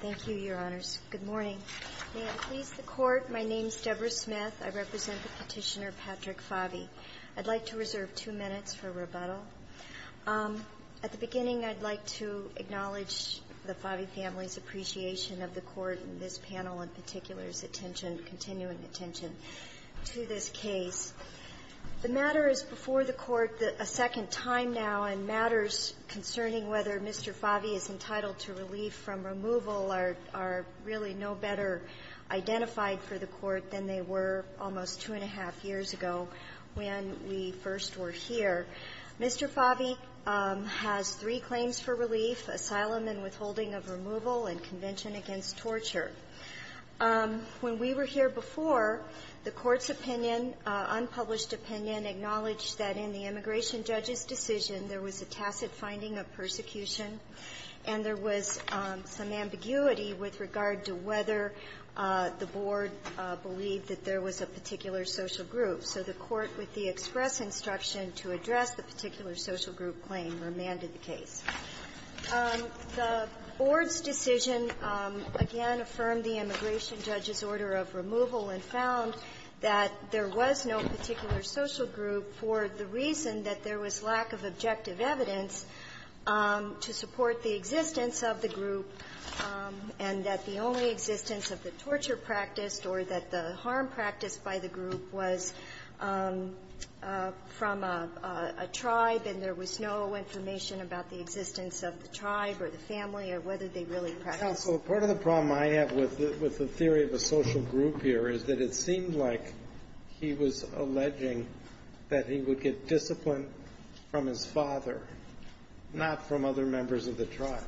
Thank you, Your Honors. Good morning. May it please the Court, my name is Debra Smith. I represent the petitioner Patrick Favi. I'd like to reserve two minutes for rebuttal. At the beginning, I'd like to acknowledge the Favi family's appreciation of the Court and this panel in particular's attention, continuing attention to this case. The matter is before the Court a second time now, and matters concerning whether Mr. Favi is entitled to relief from removal are really no better identified for the Court than they were almost two-and-a-half years ago when we first were here. Mr. Favi has three claims for relief, asylum and withholding of removal, and convention against torture. When we were here before, the Court's opinion, unpublished opinion, acknowledged that in the immigration judge's decision, there was a tacit finding of persecution, and there was some ambiguity with regard to whether the Board believed that there was a particular social group. So the Court, with the express instruction to address the particular social group claim, remanded the case. The Board's decision, again, affirmed the immigration judge's order of removal and found that there was no particular social group for the reason that there was lack of objective evidence to support the existence of the group, and that the only existence of the torture practice or that the harm practiced by the group was from a tribe, and there was no information about the existence of the tribe or the family or whether they really practiced. Counsel, part of the problem I have with the theory of a social group here is that it seemed like he was alleging that he would get discipline from his father, not from other members of the tribe.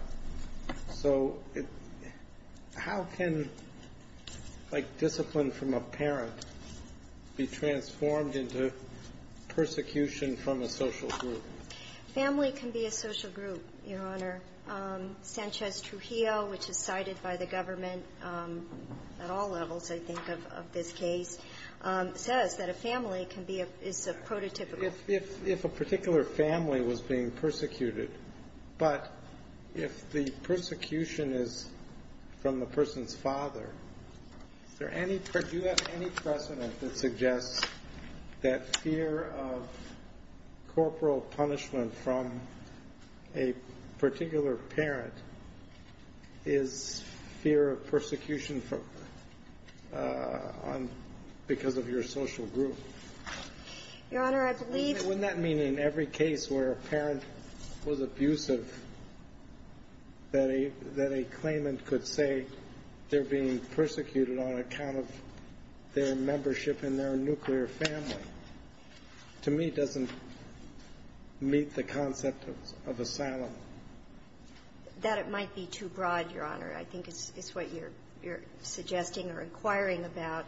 So how can, like, discipline from a parent be transformed into persecution from a social group? Family can be a social group, Your Honor. Sanchez-Trujillo, which is cited by the government at all levels, I think, of this case, says that a family can be a – is a prototypical. If a particular family was being persecuted, but if the persecution is from the person's father, is there any – do you have any precedent that suggests that fear of corporal punishment from a particular parent is fear of persecution from – on – because of your social group? Your Honor, I believe – I mean, wouldn't that mean in every case where a parent was abusive that a – that a claimant could say they're being persecuted on account of their membership in their nuclear family, to me, doesn't meet the concept of asylum? That it might be too broad, Your Honor, I think is what you're – you're suggesting or inquiring about.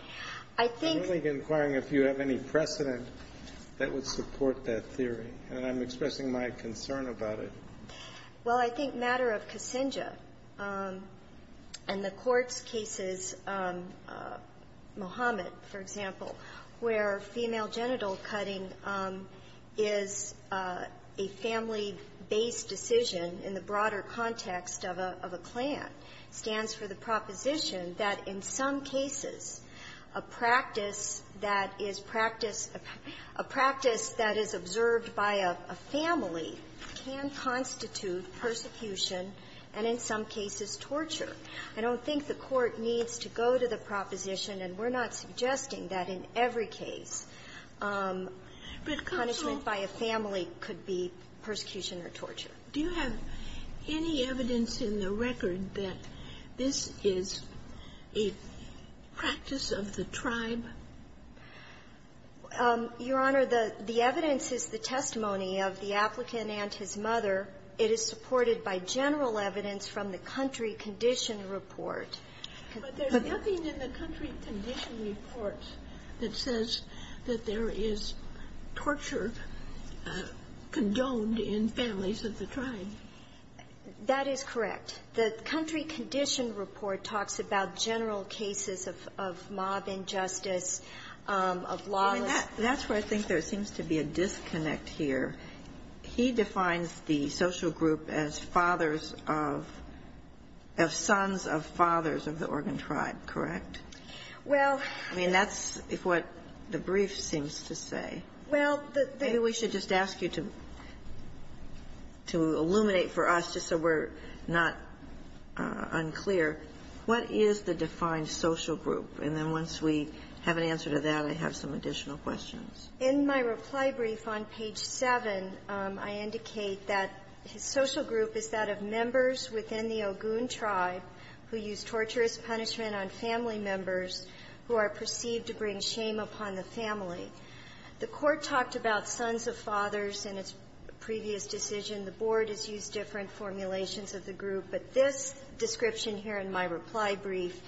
I think – I'm only inquiring if you have any precedent that would support that theory. And I'm expressing my concern about it. Well, I think matter of Kassinja and the court's cases, Mohammed, for example, where female genital cutting is a family-based decision in the broader context of a – of a clan, stands for the proposition that in some cases, a practice that is practiced – a practice that is observed by a family can constitute persecution and in some cases torture. I don't think the court needs to go to the proposition, and we're not suggesting that in every case punishment by a family could be persecution or torture. Do you have any evidence in the record that this is a practice of the tribe? Your Honor, the – the evidence is the testimony of the applicant and his mother. It is supported by general evidence from the country condition report. But there's nothing in the country condition report that says that there is torture condoned in families of the tribe. That is correct. The country condition report talks about general cases of mob injustice, of lawless That's where I think there seems to be a disconnect here. He defines the social group as fathers of – of sons of fathers of the Oregon tribe, correct? Well – I mean, that's what the brief seems to say. Well, the – I should just ask you to – to illuminate for us, just so we're not unclear. What is the defined social group? And then once we have an answer to that, I have some additional questions. In my reply brief on page 7, I indicate that his social group is that of members within the Ogun tribe who use torturous punishment on family members who are perceived to bring shame upon the family. The Court talked about sons of fathers in its previous decision. The Board has used different formulations of the group. But this description here in my reply brief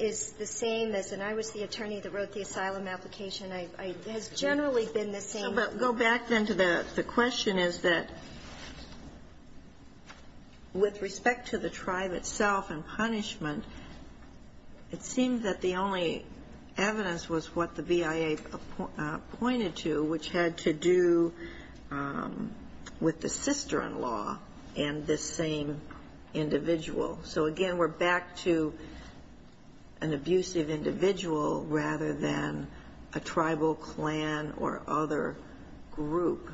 is the same as – and I was the attorney that wrote the asylum application. It has generally been the same. But go back, then, to the question is that with respect to the tribe itself and punishment, it seemed that the only evidence was what the BIA pointed to, which had to do with the sister-in-law and this same individual. So again, we're back to an abusive individual rather than a tribal clan or other group.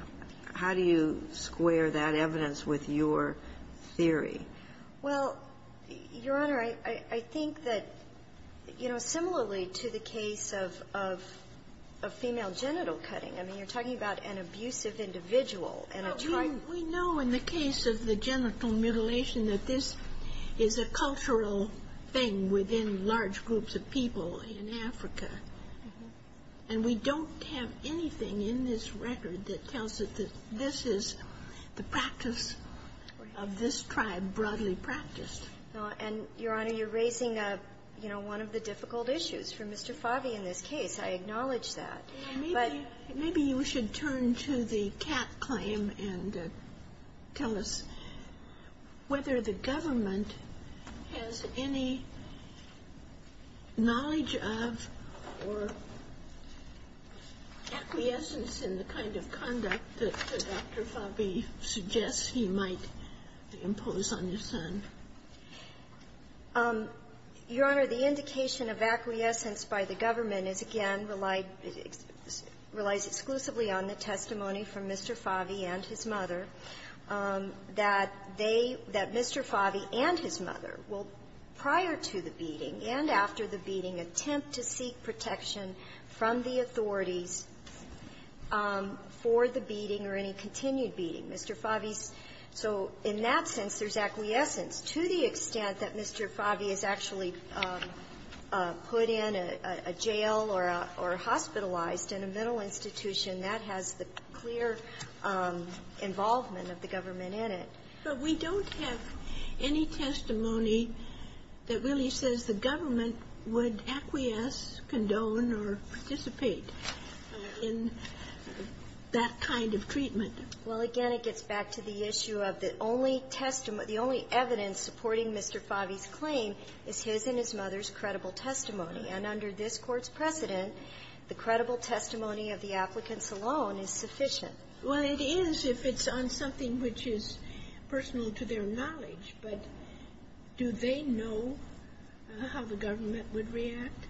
How do you square that evidence with your theory? Well, Your Honor, I think that, you know, similarly to the case of female genital cutting, I mean, you're talking about an abusive individual and a tribe – Well, we know in the case of the genital mutilation that this is a cultural thing within large groups of people in Africa. And we don't have anything in this record that tells us that this is the practice of this tribe broadly practiced. No. And, Your Honor, you're raising, you know, one of the difficult issues for Mr. Favi in this case. I acknowledge that. But – Maybe you should turn to the Katt claim and tell us whether the government has any knowledge of or acquiescence in the kind of conduct that Dr. Favi suggests he might impose on his son. Your Honor, the indication of acquiescence by the government is, again, relied – relies exclusively on the testimony from Mr. Favi and his mother, that they – that Mr. Favi and his mother will, prior to the beating and after the beating, attempt to seek protection from the authorities for the beating or any continued beating. Mr. Favi's – so in that sense, there's acquiescence. To the extent that Mr. Favi is actually put in a jail or hospitalized in a mental institution, that has the clear involvement of the government in it. But we don't have any testimony that really says the government would acquiesce, condone, or participate in that kind of treatment. Well, again, it gets back to the issue of the only testimony – the only evidence supporting Mr. Favi's claim is his and his mother's credible testimony. And under this Court's precedent, the credible testimony of the applicants alone is sufficient. Well, it is if it's on something which is personal to their knowledge. But do they know how the government would react?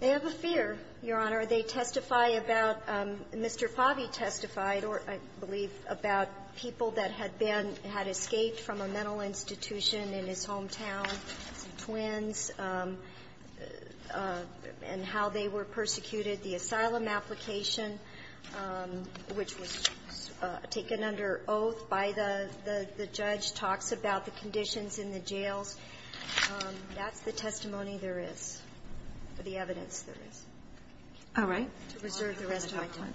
They have a fear, Your Honor. Are they testify about – Mr. Favi testified, I believe, about people that had been – had escaped from a mental institution in his hometown, some twins, and how they were persecuted. The asylum application, which was taken under oath by the judge, talks about the conditions in the jails. That's the testimony there is, the evidence there is. All right. To preserve the rest of our time.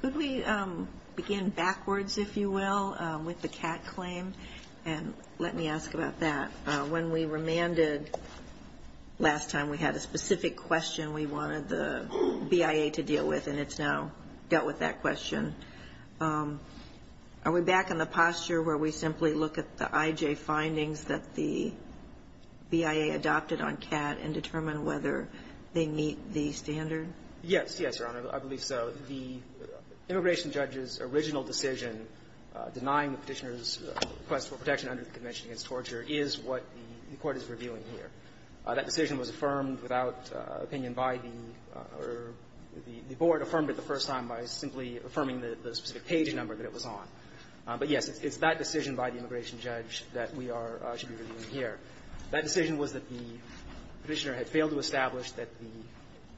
Could we begin backwards, if you will, with the Catt claim? And let me ask about that. When we remanded last time, we had a specific question we wanted the BIA to deal with, and it's now dealt with that question. Are we back in the posture where we simply look at the IJ findings that the BIA adopted on Catt and determine whether they meet the standard? Yes. Yes, Your Honor. I believe so. The immigration judge's original decision denying the Petitioner's request for protection under the Convention against Torture is what the Court is reviewing here. That decision was affirmed without opinion by the – or the Board affirmed it the first time by simply affirming the specific page number that it was on. But, yes, it's that decision by the immigration judge that we are – should be reviewing here. That decision was that the Petitioner had failed to establish that the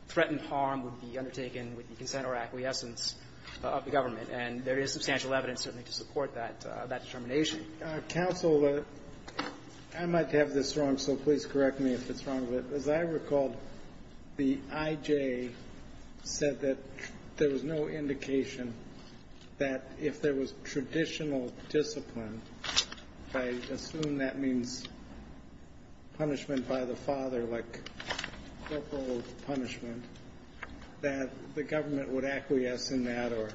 threatened harm would be undertaken with the consent or acquiescence of the government, and there is substantial evidence, certainly, to support that determination. Counsel, I might have this wrong, so please correct me if it's wrong, but as I recall, the IJ said that there was no indication that if there was traditional discipline – I assume that means punishment by the father, like corporal punishment – that the government would acquiesce in that or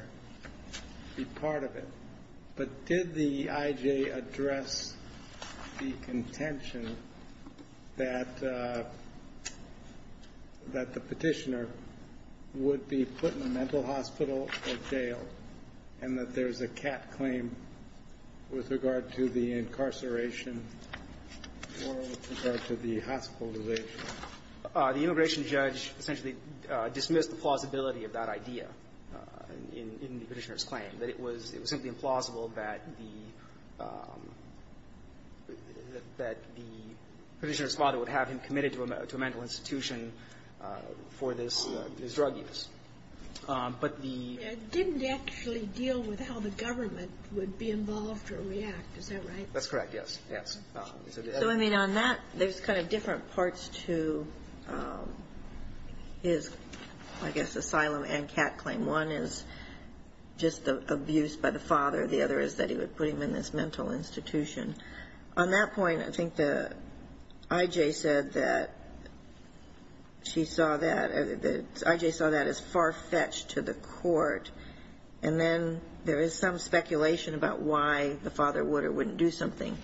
be part of it. But did the IJ address the contention that the Petitioner would be put in a mental hospital or jail and that there's a cat claim with regard to the incarceration or with regard to the hospitalization? The immigration judge essentially dismissed the plausibility of that idea in the Petitioner's claim, that it was simply implausible that the Petitioner's father would have him committed to a mental institution for this drug use. But the – It didn't actually deal with how the government would be involved or react. Is that right? That's correct, yes. Yes. So, I mean, on that, there's kind of different parts to his, I guess, asylum and cat claim. One is just the abuse by the father. The other is that he would put him in this mental institution. On that point, I think the IJ said that she saw that – the IJ saw that as far-fetched to the court, and then there is some speculation about why the father would or wouldn't do something.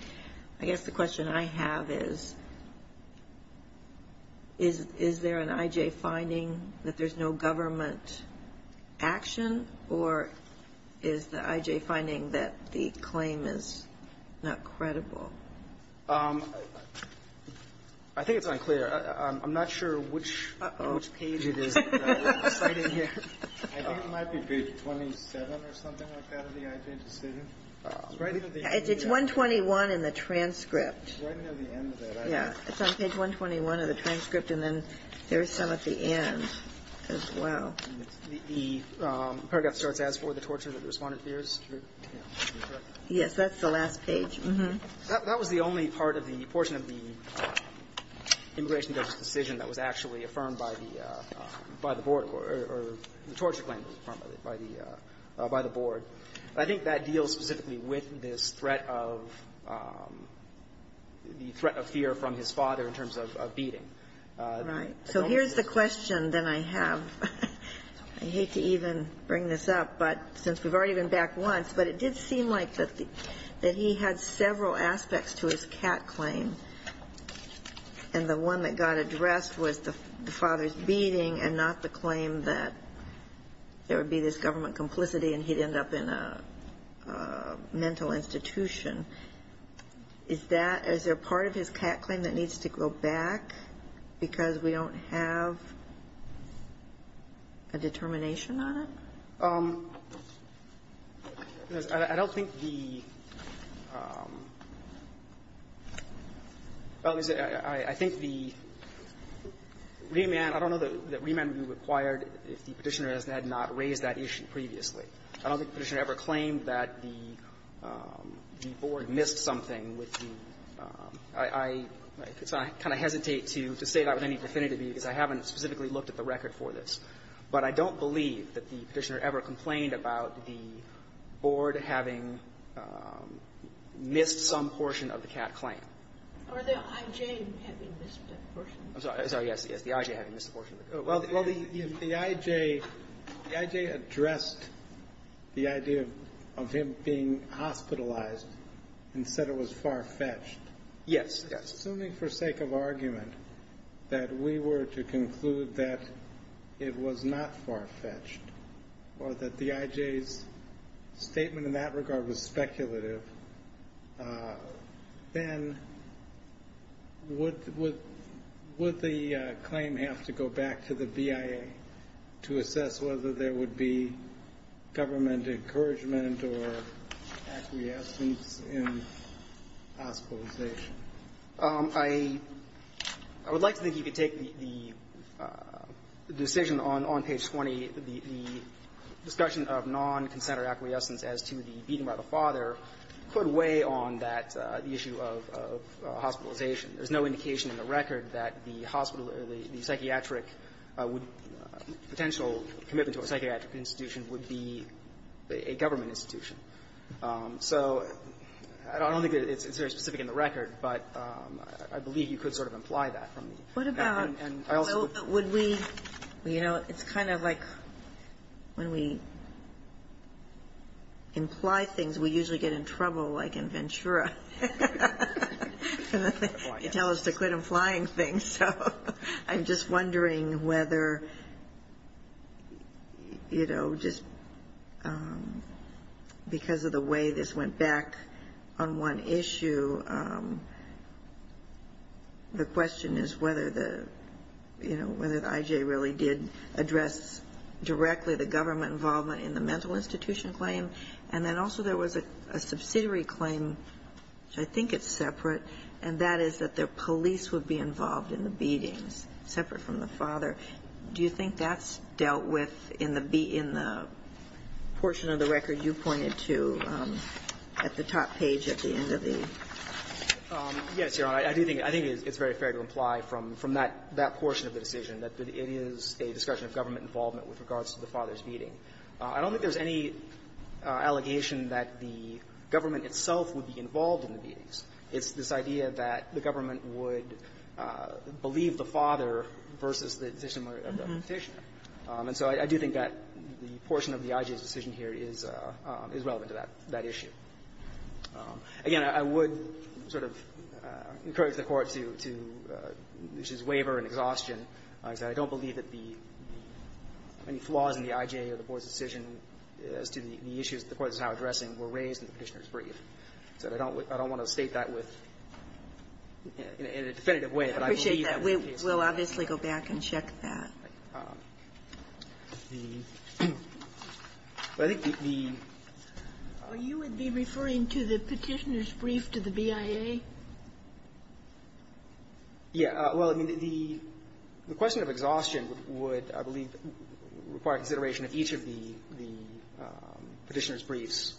I guess the question I have is, is there an IJ finding that there's no government action, or is the IJ finding that the claim is not credible? I think it's unclear. I'm not sure which page it is that I'm citing here. I think it might be page 27 or something like that of the IJ decision. It's right at the end. It's 121 in the transcript. It's right at the end of that. Yeah. It's on page 121 of the transcript, and then there's some at the end as well. The paragraph starts, as for the torture that the Respondent fears. Yes. That's the last page. That was the only part of the portion of the immigration judge's decision that was actually affirmed by the Board or the torture claim that was affirmed by the Board. I think that deals specifically with this threat of the threat of fear from his father in terms of beating. Right. So here's the question that I have. I hate to even bring this up, but since we've already been back once, but it did seem like that he had several aspects to his cat claim, and the one that got addressed was the father's beating and not the claim that there would be this government complicity and he'd end up in a mental institution. Is that as a part of his cat claim that needs to go back because we don't have a determination on it? I don't think the ---- I think the remand, I don't know that remand would be required if the Petitioner had not raised that issue previously. I don't think the Petitioner ever claimed that the Board missed something with the ---- I kind of hesitate to say that with any definitivity because I haven't specifically looked at the record for this, but I don't believe that the Petitioner ever complained about the Board having missed some portion of the cat claim. Are the I.J. having missed a portion? I'm sorry. Yes. Yes. The I.J. having missed a portion. Well, the I.J. addressed the idea of him being hospitalized and said it was far-fetched. Yes. Assuming for sake of argument that we were to conclude that it was not far-fetched or that the I.J.'s statement in that regard was speculative, then would the claim have to go back to the BIA to assess whether there would be government encouragement or acquiescence in hospitalization? I would like to think you could take the decision on page 20. The discussion of non-consent or acquiescence as to the beating by the father put way on that issue of hospitalization. There's no indication in the record that the hospital or the psychiatric would be a potential commitment to a psychiatric institution would be a government institution. So I don't think it's very specific in the record, but I believe you could sort of imply that from the back end. And I also would be you know, it's kind of like when we imply things, we usually get in trouble like in Ventura. You tell us to quit implying things. So I'm just wondering whether, you know, just because of the way this went back on one issue, the question is whether the, you know, whether the I.J. really did address directly the government involvement in the mental institution claim. And then also there was a subsidiary claim, which I think is separate, and that is that the police would be involved in the beatings, separate from the father. Do you think that's dealt with in the portion of the record you pointed to at the top page at the end of the? Yes, Your Honor. I do think it's very fair to imply from that portion of the decision that it is a discussion of government involvement with regards to the father's beating. I don't think there's any allegation that the government itself would be involved in the beatings. It's this idea that the government would believe the father versus the decision of the petitioner. And so I do think that the portion of the I.J.'s decision here is relevant to that issue. Again, I would sort of encourage the Court to use his waiver and exhaustion because I don't believe that the any flaws in the I.J. or the Board's decision as to the issues the Court is now addressing were raised in the Petitioner's brief. So I don't want to state that with, in a definitive way, but I believe it is the case. We'll obviously go back and check that. I think the the You would be referring to the Petitioner's brief to the BIA? Yeah. Well, I mean, the question of exhaustion would, I believe, require consideration of each of the Petitioner's briefs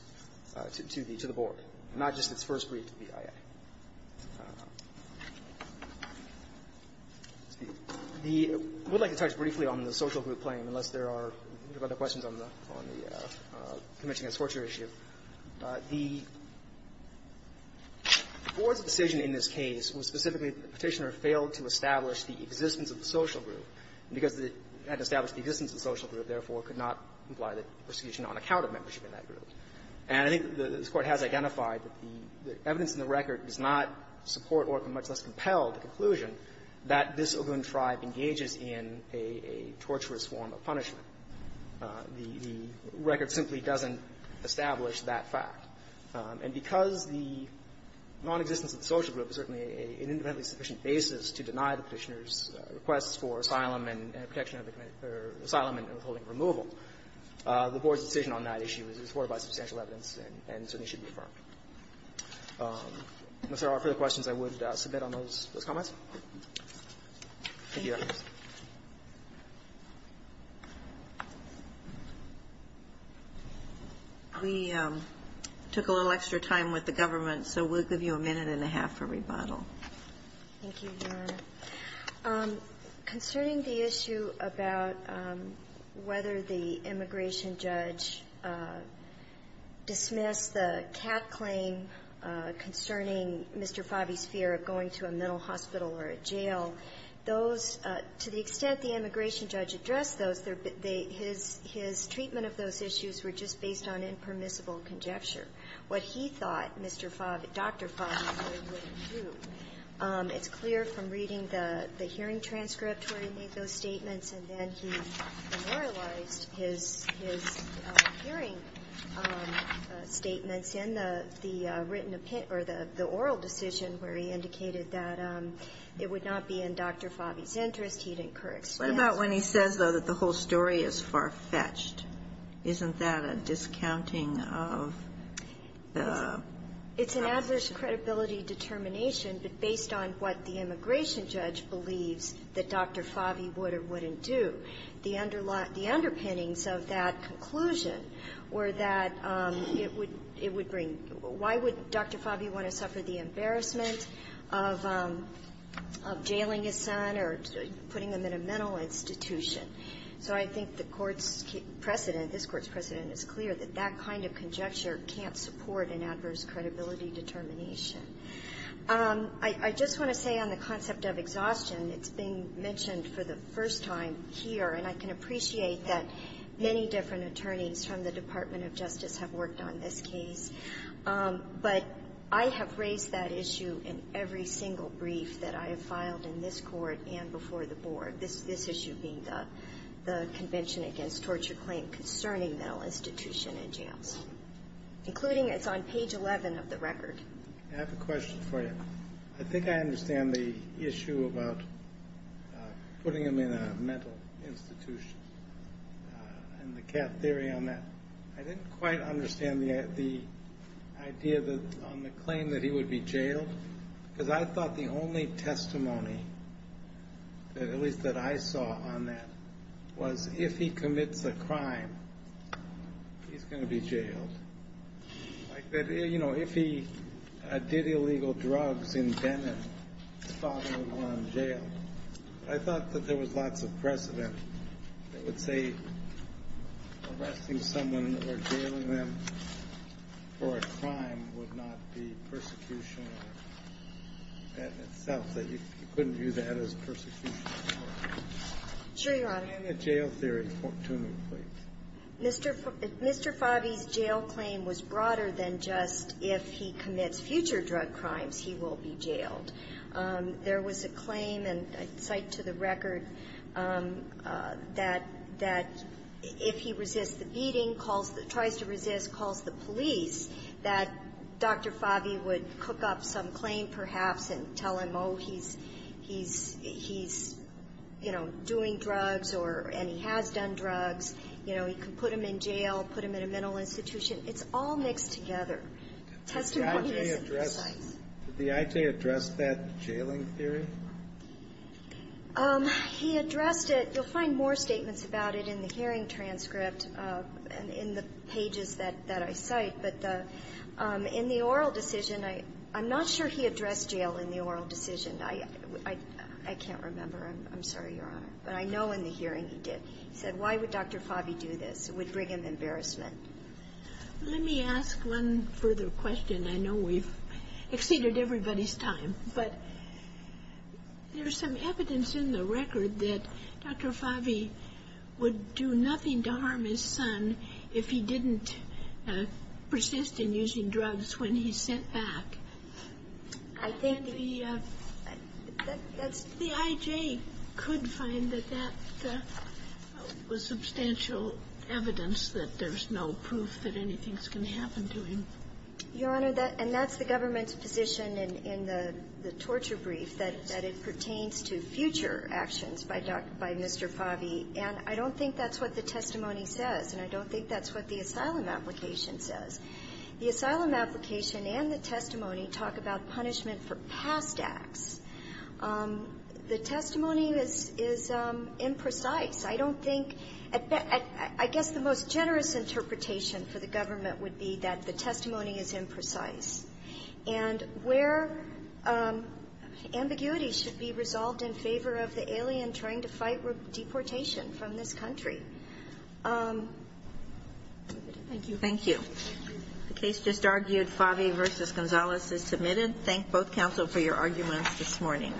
to the Board, not just its first brief to the BIA. I would like to touch briefly on the social group claim, unless there are other questions on the Convention Against Torture issue. The Board's decision in this case was specifically that the Petitioner failed to establish the existence of the social group, and because it had to establish the existence of the social group, therefore, could not imply the prosecution on account of membership in that group. And I think the Court has identified that the evidence in the record does not support or much less compel the conclusion that this Ogun tribe engages in a torturous form of punishment. The record simply doesn't establish that fact. And because the nonexistence of the social group is certainly an independently sufficient basis to deny the Petitioner's requests for asylum and protection of the asylum and withholding removal, the Board's decision on that issue is supported by substantial evidence and certainly should be confirmed. Unless there are further questions, I would submit on those comments. Thank you, Your Honor. We took a little extra time with the government, so we'll give you a minute and a half for rebuttal. Thank you, Your Honor. Concerning the issue about whether the immigration judge dismissed the cap claim concerning Mr. Favi's fear of going to a mental hospital or a jail, those to the extent the immigration judge addressed those, his treatment of those issues were just based on impermissible conjecture. What he thought Dr. Favi would do, it's clear from reading the hearing transcript where he made those statements, and then he memorialized his hearing statements in the written opinion or the oral decision where he indicated that it would not be in Dr. Favi's interest. What about when he says, though, that the whole story is far-fetched? Isn't that a discounting of the option? It's not based on adverse credibility determination, but based on what the immigration judge believes that Dr. Favi would or wouldn't do. The underpinnings of that conclusion were that it would bring why would Dr. Favi want to suffer the embarrassment of jailing his son or putting him in a mental institution? So I think the Court's precedent, this Court's precedent, is clear that that kind of conjecture can't support an adverse credibility determination. I just want to say on the concept of exhaustion, it's being mentioned for the first time here, and I can appreciate that many different attorneys from the Department of Justice have worked on this case, but I have raised that issue in every single brief that I have filed in this Court and before the Board, this issue being the Convention Against Torture Claim Concerning Mental Institution and Jails, including it's on page 11 of the record. I have a question for you. I think I understand the issue about putting him in a mental institution and the cat theory on that. I didn't quite understand the idea on the claim that he would be jailed, because I thought the only testimony, at least that I saw on that, was if he commits a crime, he's going to be jailed. Like, you know, if he did illegal drugs in Benin, he's probably going to go to jail. I thought that there was lots of precedent that would say arresting someone or jailing them for a crime would not be persecution in itself, that you couldn't view that as Mr. Favi's jail claim was broader than just if he commits future drug crimes, he will be jailed. There was a claim, and I cite to the record, that if he resists the beating, tries to resist, calls the police, that Dr. Favi would cook up some claim, perhaps, and tell him, oh, he's, he's, he's, you know, doing drugs or, and he has done drugs, you know, he could put him in jail, put him in a mental institution. It's all mixed together. Testimony isn't precise. Did the I.J. address that jailing theory? He addressed it. You'll find more statements about it in the hearing transcript and in the pages that I cite. But in the oral decision, I'm not sure he addressed jail in the oral decision. I can't remember. I'm sorry, Your Honor. But I know in the hearing he did. He said, why would Dr. Favi do this? It would bring him embarrassment. Let me ask one further question. I know we've exceeded everybody's time, but there's some evidence in the record that Dr. Favi would do nothing to harm his son if he didn't persist in using drugs when he's sent back. I think the that's The I.J. could find that that was substantial evidence that there's no proof that anything's going to happen to him. Your Honor, and that's the government's position in the torture brief, that it pertains to future actions by Dr. — by Mr. Favi. And I don't think that's what the testimony says, and I don't think that's what the asylum application says. The asylum application and the testimony talk about punishment for past acts. The testimony is — is imprecise. I don't think — I guess the most generous interpretation for the government would be that the testimony is imprecise. And where ambiguity should be resolved in favor of the alien trying to fight deportation from this country. Thank you. Thank you. The case just argued, Favi v. Gonzalez, is submitted. Thank both counsel for your arguments this morning.